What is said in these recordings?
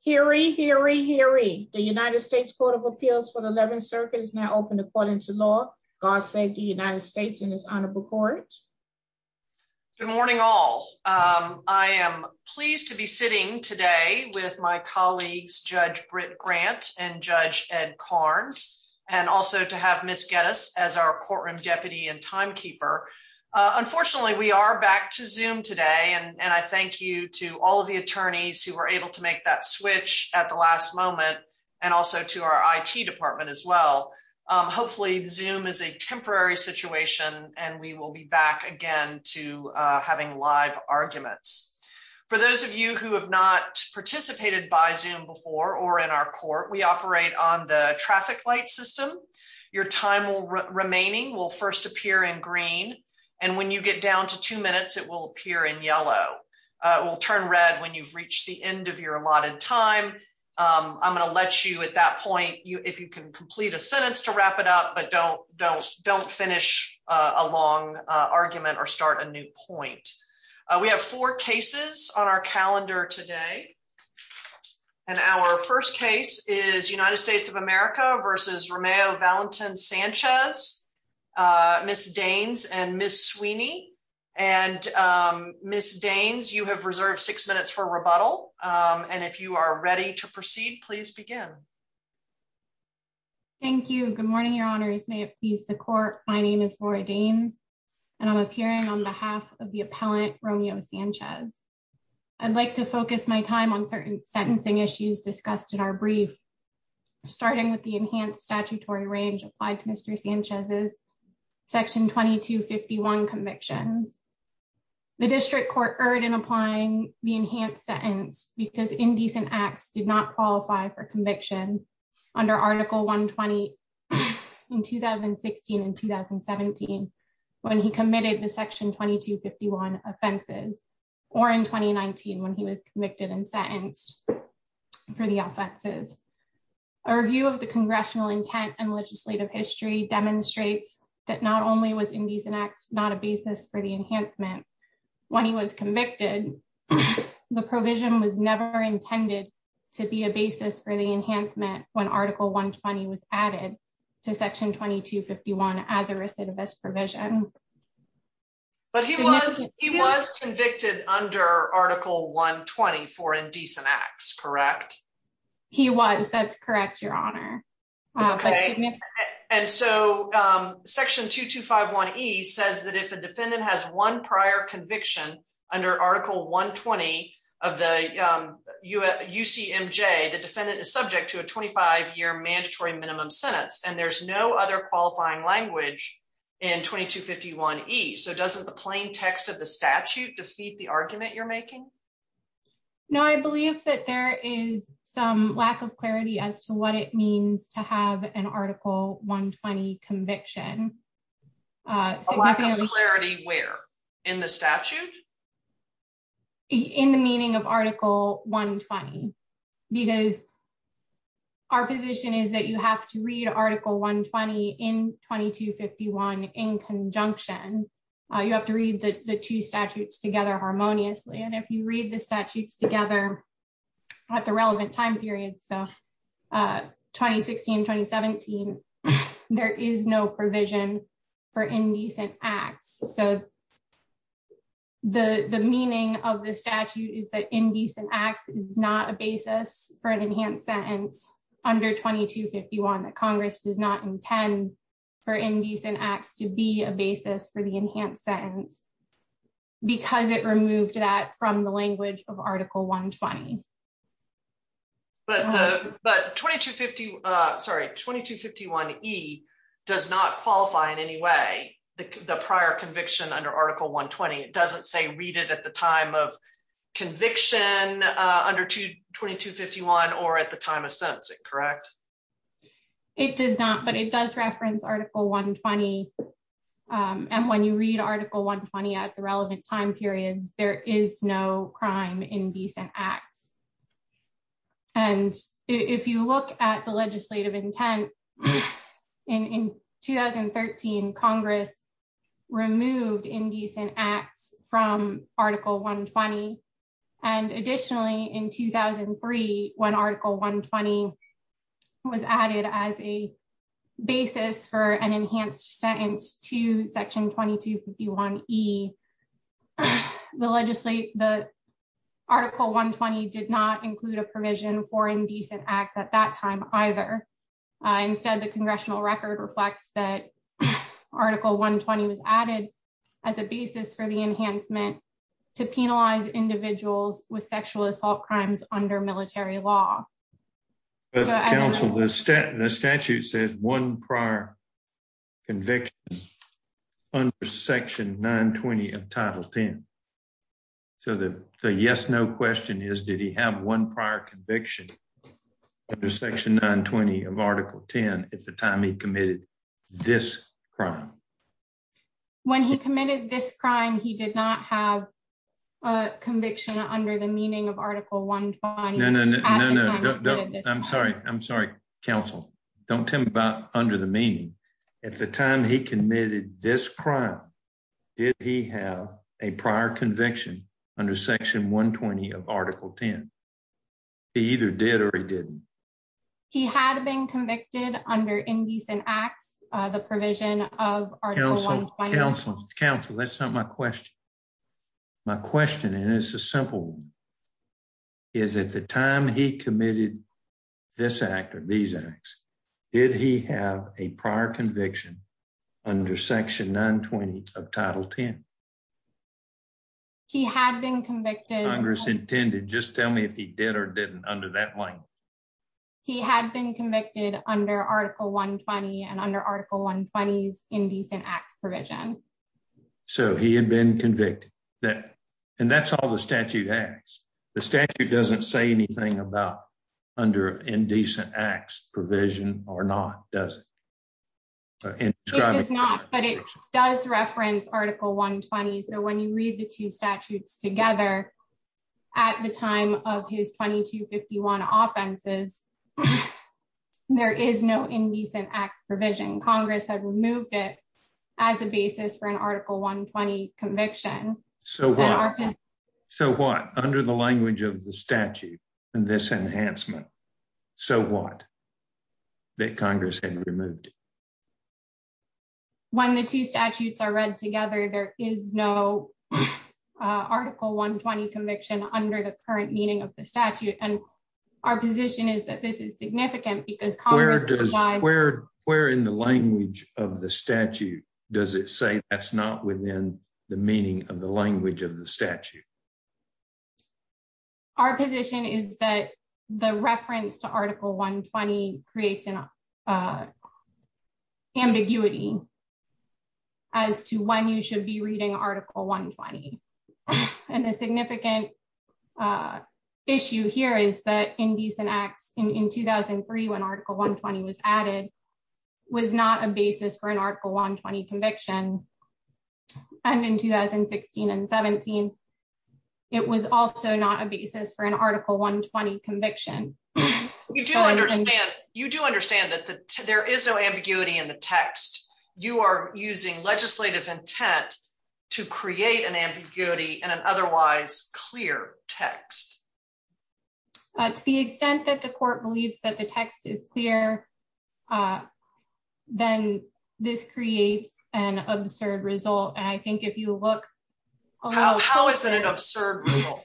Hear ye, hear ye, hear ye. The United States Court of Appeals for the 11th Circuit is now open according to law. God save the United States and this honorable court. Good morning all. I am pleased to be sitting today with my colleagues Judge Britt Grant and Judge Ed Karnes and also to have Miss Geddes as our courtroom deputy and timekeeper. Unfortunately we are back to Zoom today and I thank you to all of the attorneys who were able to make that switch at the last moment and also to our IT department as well. Hopefully Zoom is a temporary situation and we will be back again to having live arguments. For those of you who have not participated by Zoom before or in our court, we operate on the traffic light system. Your time remaining will first appear in green and when you get down to two minutes it will appear in yellow. It will turn red when you've reached the end of your allotted time. I'm going to let you at that point, if you can complete a sentence to wrap it up, but don't finish a long argument or start a new point. We have four cases on our calendar today and our first case is United States of America versus Romeo Valentin Sanchez, Ms. Daines and Ms. Sweeney. Ms. Daines, you have reserved six minutes for rebuttal and if you are ready to proceed, please begin. Thank you. Good morning, your honors. May it please the court. My name is Laura Daines and I'm appearing on behalf of the appellant Romeo Sanchez. I'd like to focus my time on certain sentencing issues discussed in our brief, starting with the enhanced statutory range applied to Mr. Sanchez's section 2251 convictions. The district court erred in applying the enhanced sentence because indecent acts did not qualify for conviction under article 120 in 2016 and 2017 when he committed the section 2251 offenses or in 2019 when he was convicted and sentenced for the offenses. A review of the congressional intent and legislative history demonstrates that not only was indecent acts not a basis for the enhancement when he was convicted, the provision was never intended to be a basis for the enhancement when article 120 was added to section 2251 as a recidivist provision. But he was convicted under article 120 for indecent acts, correct? He was, that's correct, your honor. Okay, and so section 2251e says that if a defendant has one prior conviction under article 120 of the UCMJ, the defendant is subject to a 25-year mandatory minimum sentence and there's no other qualifying language in 2251e. So doesn't the plain text of the statute defeat the argument you're making? No, I believe that there is some lack of clarity as to what it means to have an article 120 conviction. A lack of clarity where? In the statute? In the meaning of article 120 because our position is that you have to read article 120 in 2251 in conjunction. You have to read the two statutes together harmoniously and if you read the statutes together at the relevant time period, so 2016-2017, there is no provision for indecent acts. So the meaning of the statute is that indecent acts is not a basis for an enhanced sentence under 2251 that Congress does not intend for indecent acts to be a basis for the enhanced sentence because it removed that from the language of article 120. But 2251e does not qualify in any way the prior conviction under article 120. It doesn't say read it at the time of conviction under 2251 or at the time of sentencing, correct? It does not, but it does reference article 120 and when you read article 120 at the relevant time periods, there is no crime indecent acts and if you look at the legislative intent in 2013, Congress removed indecent acts from article 120 and additionally in 2003 when article 120 was added as a basis for an enhanced sentence to section 2251e, the article 120 did not include a provision for indecent acts at that time either. Instead, the congressional record reflects that article 120 was added as a basis for the enhancement to penalize individuals with sexual assault crimes under military law. Counsel, the statute says one prior conviction under section 920 of title 10. So the yes no question is did he have one prior conviction under section 920 of article 10 at the time he committed this crime? When he committed this crime, he did not have a conviction under the meaning of article 120. I'm sorry. I'm sorry, counsel. Don't tell me about under the meaning. At the time he committed this crime, did he have a prior conviction under section 120 of article 10? He either did or he he had been convicted under indecent acts. The provision of counsel counsel. That's not my question. My question and it's a simple one is at the time he committed this act or these acts, did he have a prior conviction under section 920 of title 10? He had been convicted. Congress intended just tell me if he did or didn't under that line. He had been convicted under article 120 and under article 120's indecent acts provision. So he had been convicted that and that's all the statute acts. The statute doesn't say anything about under indecent acts provision or not, does it? It's not, but it does reference article 120. So when you read the two statutes together at the time of his 2251 offenses, there is no indecent acts provision. Congress had removed it as a basis for an article 120 conviction. So what? So what? Under the language of the statute and this enhancement, so what? That Congress had removed. When the two statutes are read together, there is no article 120 conviction under the current meaning of the statute. And our position is that this is significant because Congress. Where in the language of the statute does it say that's not within the meaning of the language of statute? Our position is that the reference to article 120 creates an ambiguity as to when you should be reading article 120. And the significant issue here is that indecent acts in 2003 when conviction. And in 2016 and 17, it was also not a basis for an article 120 conviction. You do understand that there is no ambiguity in the text. You are using legislative intent to create an ambiguity and an otherwise clear text. But to the extent that the court believes that the text is clear, then this creates an absurd result. And I think if you look, how is it an absurd? So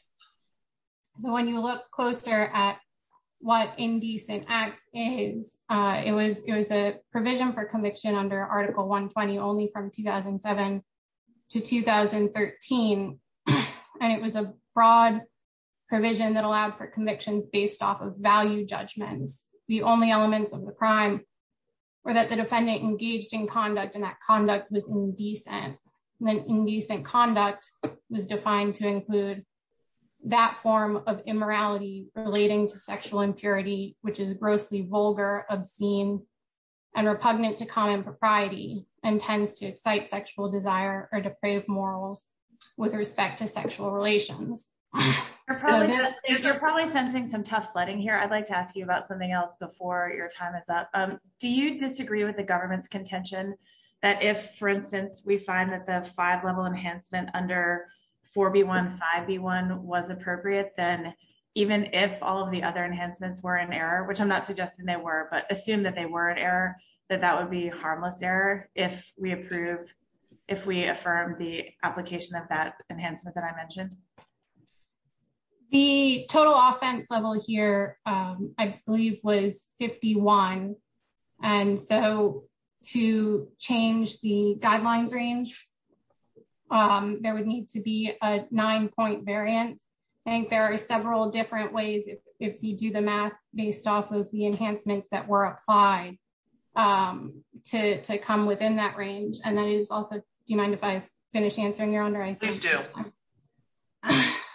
when you look closer at what indecent acts is, it was it was a provision for conviction under article 120 only from 2007 to 2013. And it was a broad provision that allowed for convictions based off of value judgments. The only elements of the crime were that the defendant engaged in conduct and that conduct was indecent. And then indecent conduct was defined to include that form of immorality relating to sexual impurity, which is grossly vulgar, obscene, and repugnant to common propriety and tends to excite sexual desire or deprave morals with respect to sexual relations. You're probably fencing some tough sledding here. I'd like to ask you about something else before your time is up. Do you disagree with the government's contention that if, for instance, we find that the five level enhancement under 4B1, 5B1 was appropriate, then even if all of the other they were, but assume that they were an error, that that would be a harmless error if we approve, if we affirm the application of that enhancement that I mentioned? The total offense level here, I believe, was 51. And so to change the guidelines range, there would need to be a nine point variant. I think there are several different ways if you do math based off of the enhancements that were applied to come within that range. And that is also, do you mind if I finish answering your own question?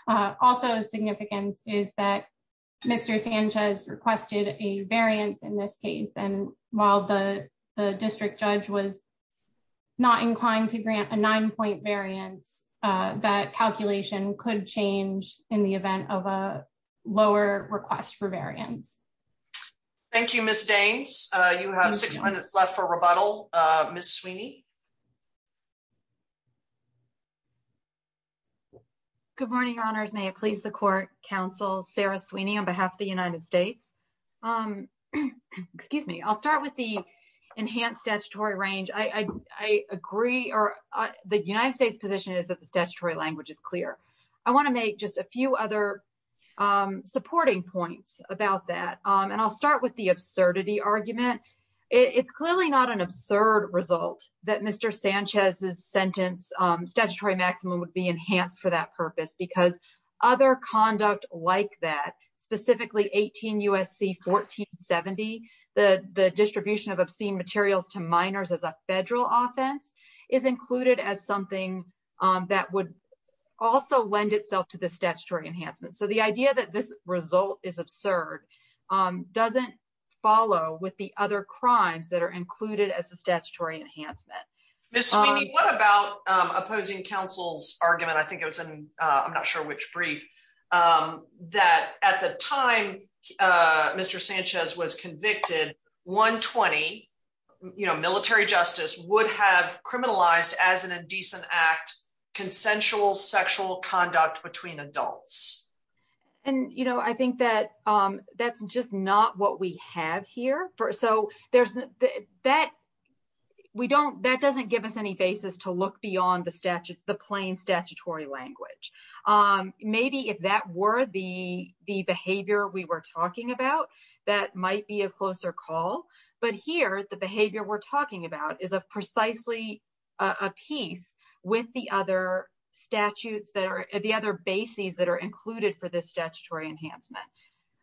Also significant is that Mr. Sanchez requested a variance in this case. And while the district judge was not inclined to grant a nine variance, that calculation could change in the event of a lower request for variance. Thank you, Ms. Daines. You have six minutes left for rebuttal. Ms. Sweeney. Good morning, your honors. May it please the court, counsel Sarah Sweeney on behalf of the excuse me, I'll start with the enhanced statutory range. I agree or the United States position is that the statutory language is clear. I want to make just a few other supporting points about that. And I'll start with the absurdity argument. It's clearly not an absurd result that Mr. Sanchez's sentence statutory maximum would be enhanced for that purpose because other conduct like that, specifically 18 USC 1470, the distribution of obscene materials to minors as a federal offense is included as something that would also lend itself to the statutory enhancement. So the idea that this result is absurd, doesn't follow with the other crimes that are included as a statutory enhancement. Ms. Sweeney, what about opposing counsel's I'm not sure which brief that at the time Mr. Sanchez was convicted, 120, military justice would have criminalized as an indecent act, consensual sexual conduct between adults. And I think that that's just not what we have here. So that doesn't give us any basis to look beyond the statute, the plain statutory language. Maybe if that were the behavior we were talking about, that might be a closer call, but here the behavior we're talking about is a precisely a piece with the other statutes that are the other bases that are included for this statutory enhancement.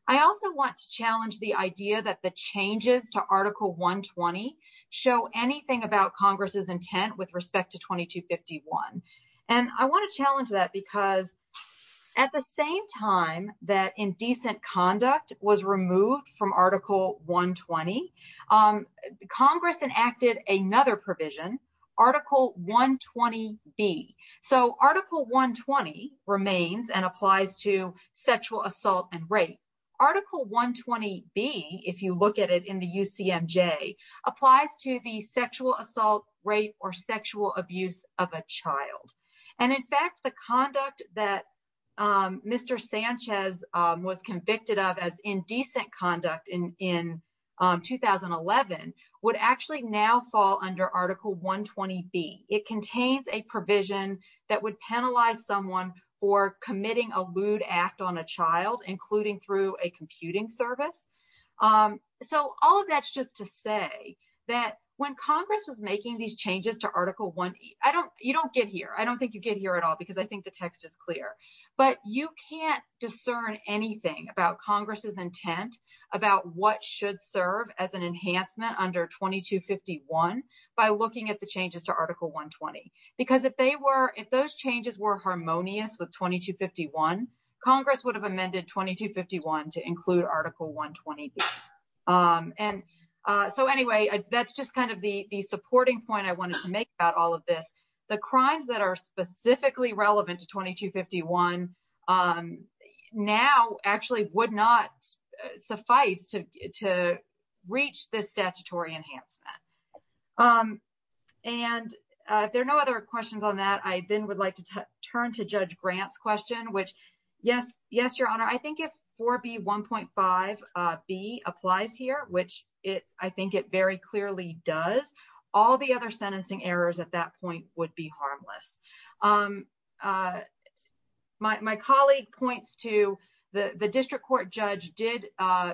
I also want to challenge the idea that the changes to article 120 show anything about Congress's intent with respect to 2251. And I want to challenge that because at the same time that indecent conduct was removed from article 120, Congress enacted another provision, article 120B. So article 120 remains and applies to sexual assault and rape. Article 120B, if you look at it in the UCMJ applies to the sexual assault, rape or sexual abuse of a child. And in fact, the conduct that Mr. Sanchez was convicted of as indecent conduct in 2011 would actually now fall under article 120B. It contains a provision that would penalize someone for committing a lewd act on a child, including through a computing service. So all of that's just to say that when Congress was making these changes to article 1E, I don't, you don't get here. I don't think you get here at all because I think the text is clear, but you can't discern anything about Congress's intent about what should serve as an enhancement under 2251 by looking at the changes to article 120. Because if they were, if those changes were harmonious with 2251, Congress would have amended 2251 to include article 120B. And so anyway, that's just kind of the supporting point I wanted to make about all of this. The crimes that are enhancement. And if there are no other questions on that, I then would like to turn to Judge Grant's question, which yes, yes, Your Honor, I think if 4B 1.5B applies here, which it, I think it very clearly does, all the other sentencing errors at that point would be harmless. My colleague points to the district court judge did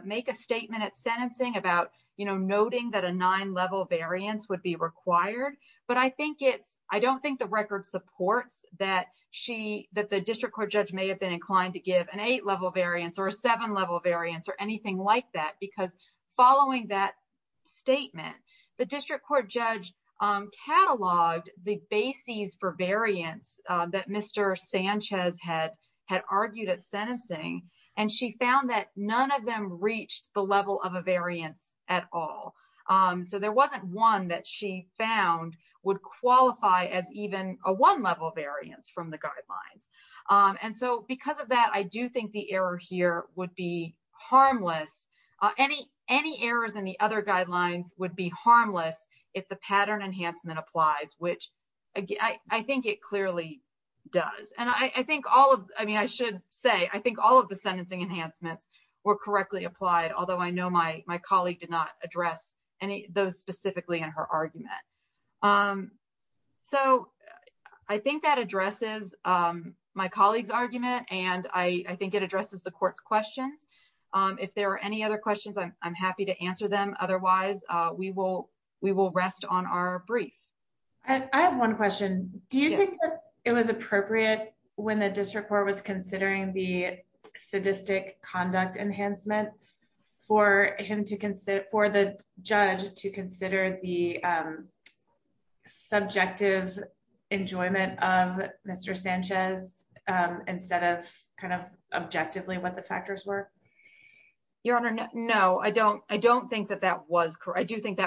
make a statement at sentencing about, you know, noting that a nine level variance would be required. But I think it's, I don't think the record supports that she, that the district court judge may have been inclined to give an eight level variance or a seven level variance or anything like that. Because following that statement, the district court judge cataloged the bases for variance that Mr. Sanchez had, had argued at sentencing. And she found that none of them reached the level of a at all. So there wasn't one that she found would qualify as even a one level variance from the guidelines. And so because of that, I do think the error here would be harmless. Any, any errors in the other guidelines would be harmless if the pattern enhancement applies, which I think it clearly does. And I think all of, I mean, I should say, I think all of the sentencing enhancements were correctly applied. Although I know my, my colleague did not address any of those specifically in her argument. So I think that addresses my colleague's argument and I think it addresses the court's questions. If there are any other questions, I'm happy to answer them. Otherwise, we will, we will rest on our brief. I have one question. Do you think it was appropriate when the district court was considering the sadistic conduct enhancement for him to consider for the judge to consider the subjective enjoyment of Mr. Sanchez instead of kind of objectively what the factors were? Your honor? No, I don't. I don't think that that was correct. I do think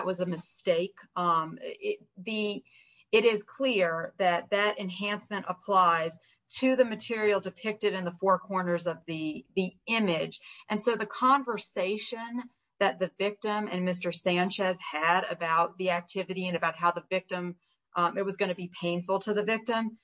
it's clear that that enhancement applies to the material depicted in the four corners of the, the image. And so the conversation that the victim and Mr. Sanchez had about the activity and about how the victim, it was going to be painful to the victim.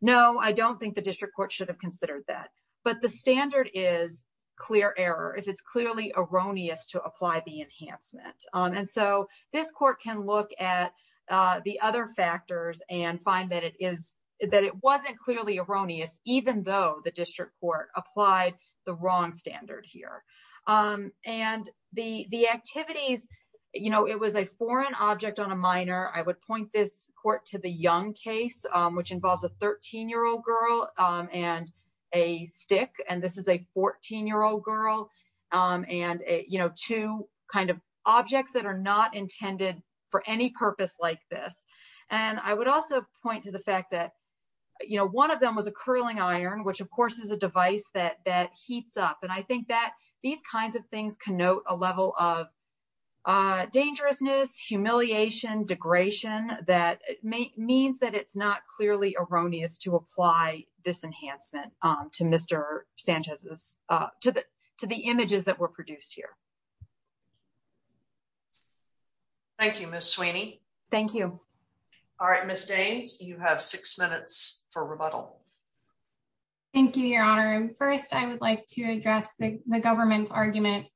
No, I don't think the district court should have considered that, but the standard is clear error. If it's clearly erroneous to apply the enhancement. And so this court can look at the other factors and find that it is that it wasn't clearly erroneous, even though the district court applied the wrong standard here. And the, the activities, you know, it was a foreign object on a minor. I would point this court to the young case, which involves a 13 year old girl and a stick. And this is a 14 year old and a, you know, two kind of objects that are not intended for any purpose like this. And I would also point to the fact that, you know, one of them was a curling iron, which of course is a device that, that heats up. And I think that these kinds of things can note a level of dangerousness, humiliation, degration, that means that it's not clearly erroneous to apply this enhancement to Sanchez's to the, to the images that were produced here. Thank you, Ms. Sweeney. Thank you. All right, Ms. Dayes, you have six minutes for rebuttal. Thank you, your honor. And first I would like to address the government's argument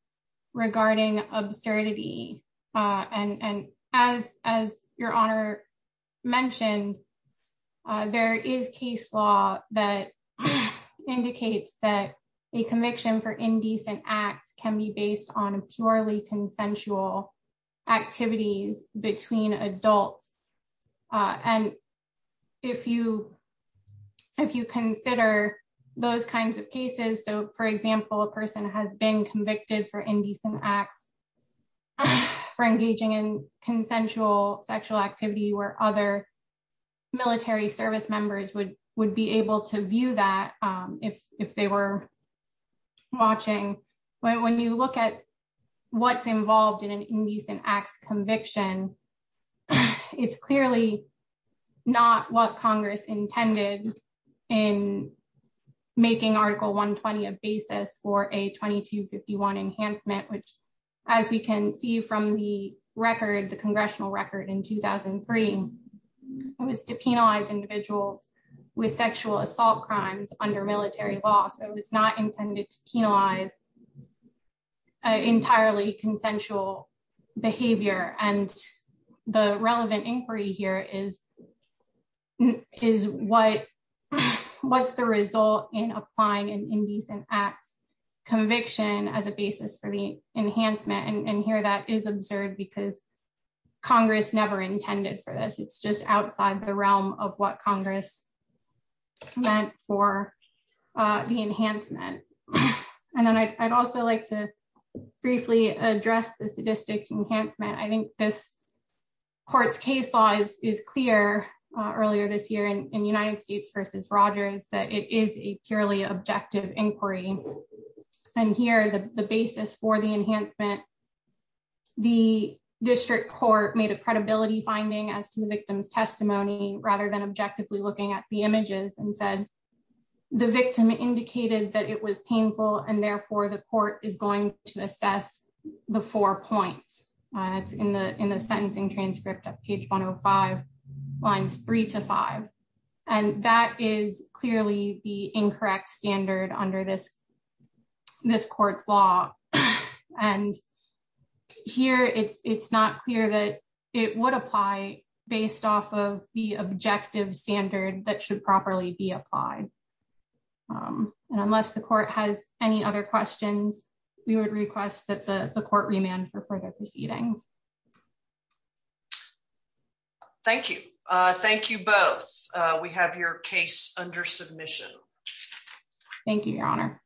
regarding absurdity. And as, as your honor mentioned, there is case law that indicates that a conviction for indecent acts can be based on purely consensual activities between adults. And if you, if you consider those kinds of cases, so for example, a person has been convicted for indecent acts, for engaging in consensual sexual activity where other military service members would, would be able to view that if, if they were watching. When you look at what's involved in an indecent acts conviction, it's clearly not what Congress intended in making Article 120 a which, as we can see from the record, the congressional record in 2003, it was to penalize individuals with sexual assault crimes under military law. So it was not intended to penalize entirely consensual behavior. And the relevant inquiry here is, is what, what's the result in applying an indecent acts conviction as a basis for the enhancement. And here that is absurd because Congress never intended for this. It's just outside the realm of what Congress meant for the enhancement. And then I'd also like to briefly address the sadistic enhancement. I think this court's case law is clear earlier this year in United States versus Rogers, that it is a purely objective inquiry. And here the basis for the enhancement, the district court made a credibility finding as to the victim's testimony, rather than objectively looking at the images and said, the victim indicated that it was painful, and therefore the court is going to assess the four points in the, in the sentencing transcript at page 105, lines three to five. And that is clearly the incorrect standard under this, this court's law. And here, it's not clear that it would apply based off of the objective standard that should properly be applied. And unless the court has any other questions, we would request that the court remand for further proceedings. Thank you. Thank you both. We have your case under submission. Thank you, Your Honor.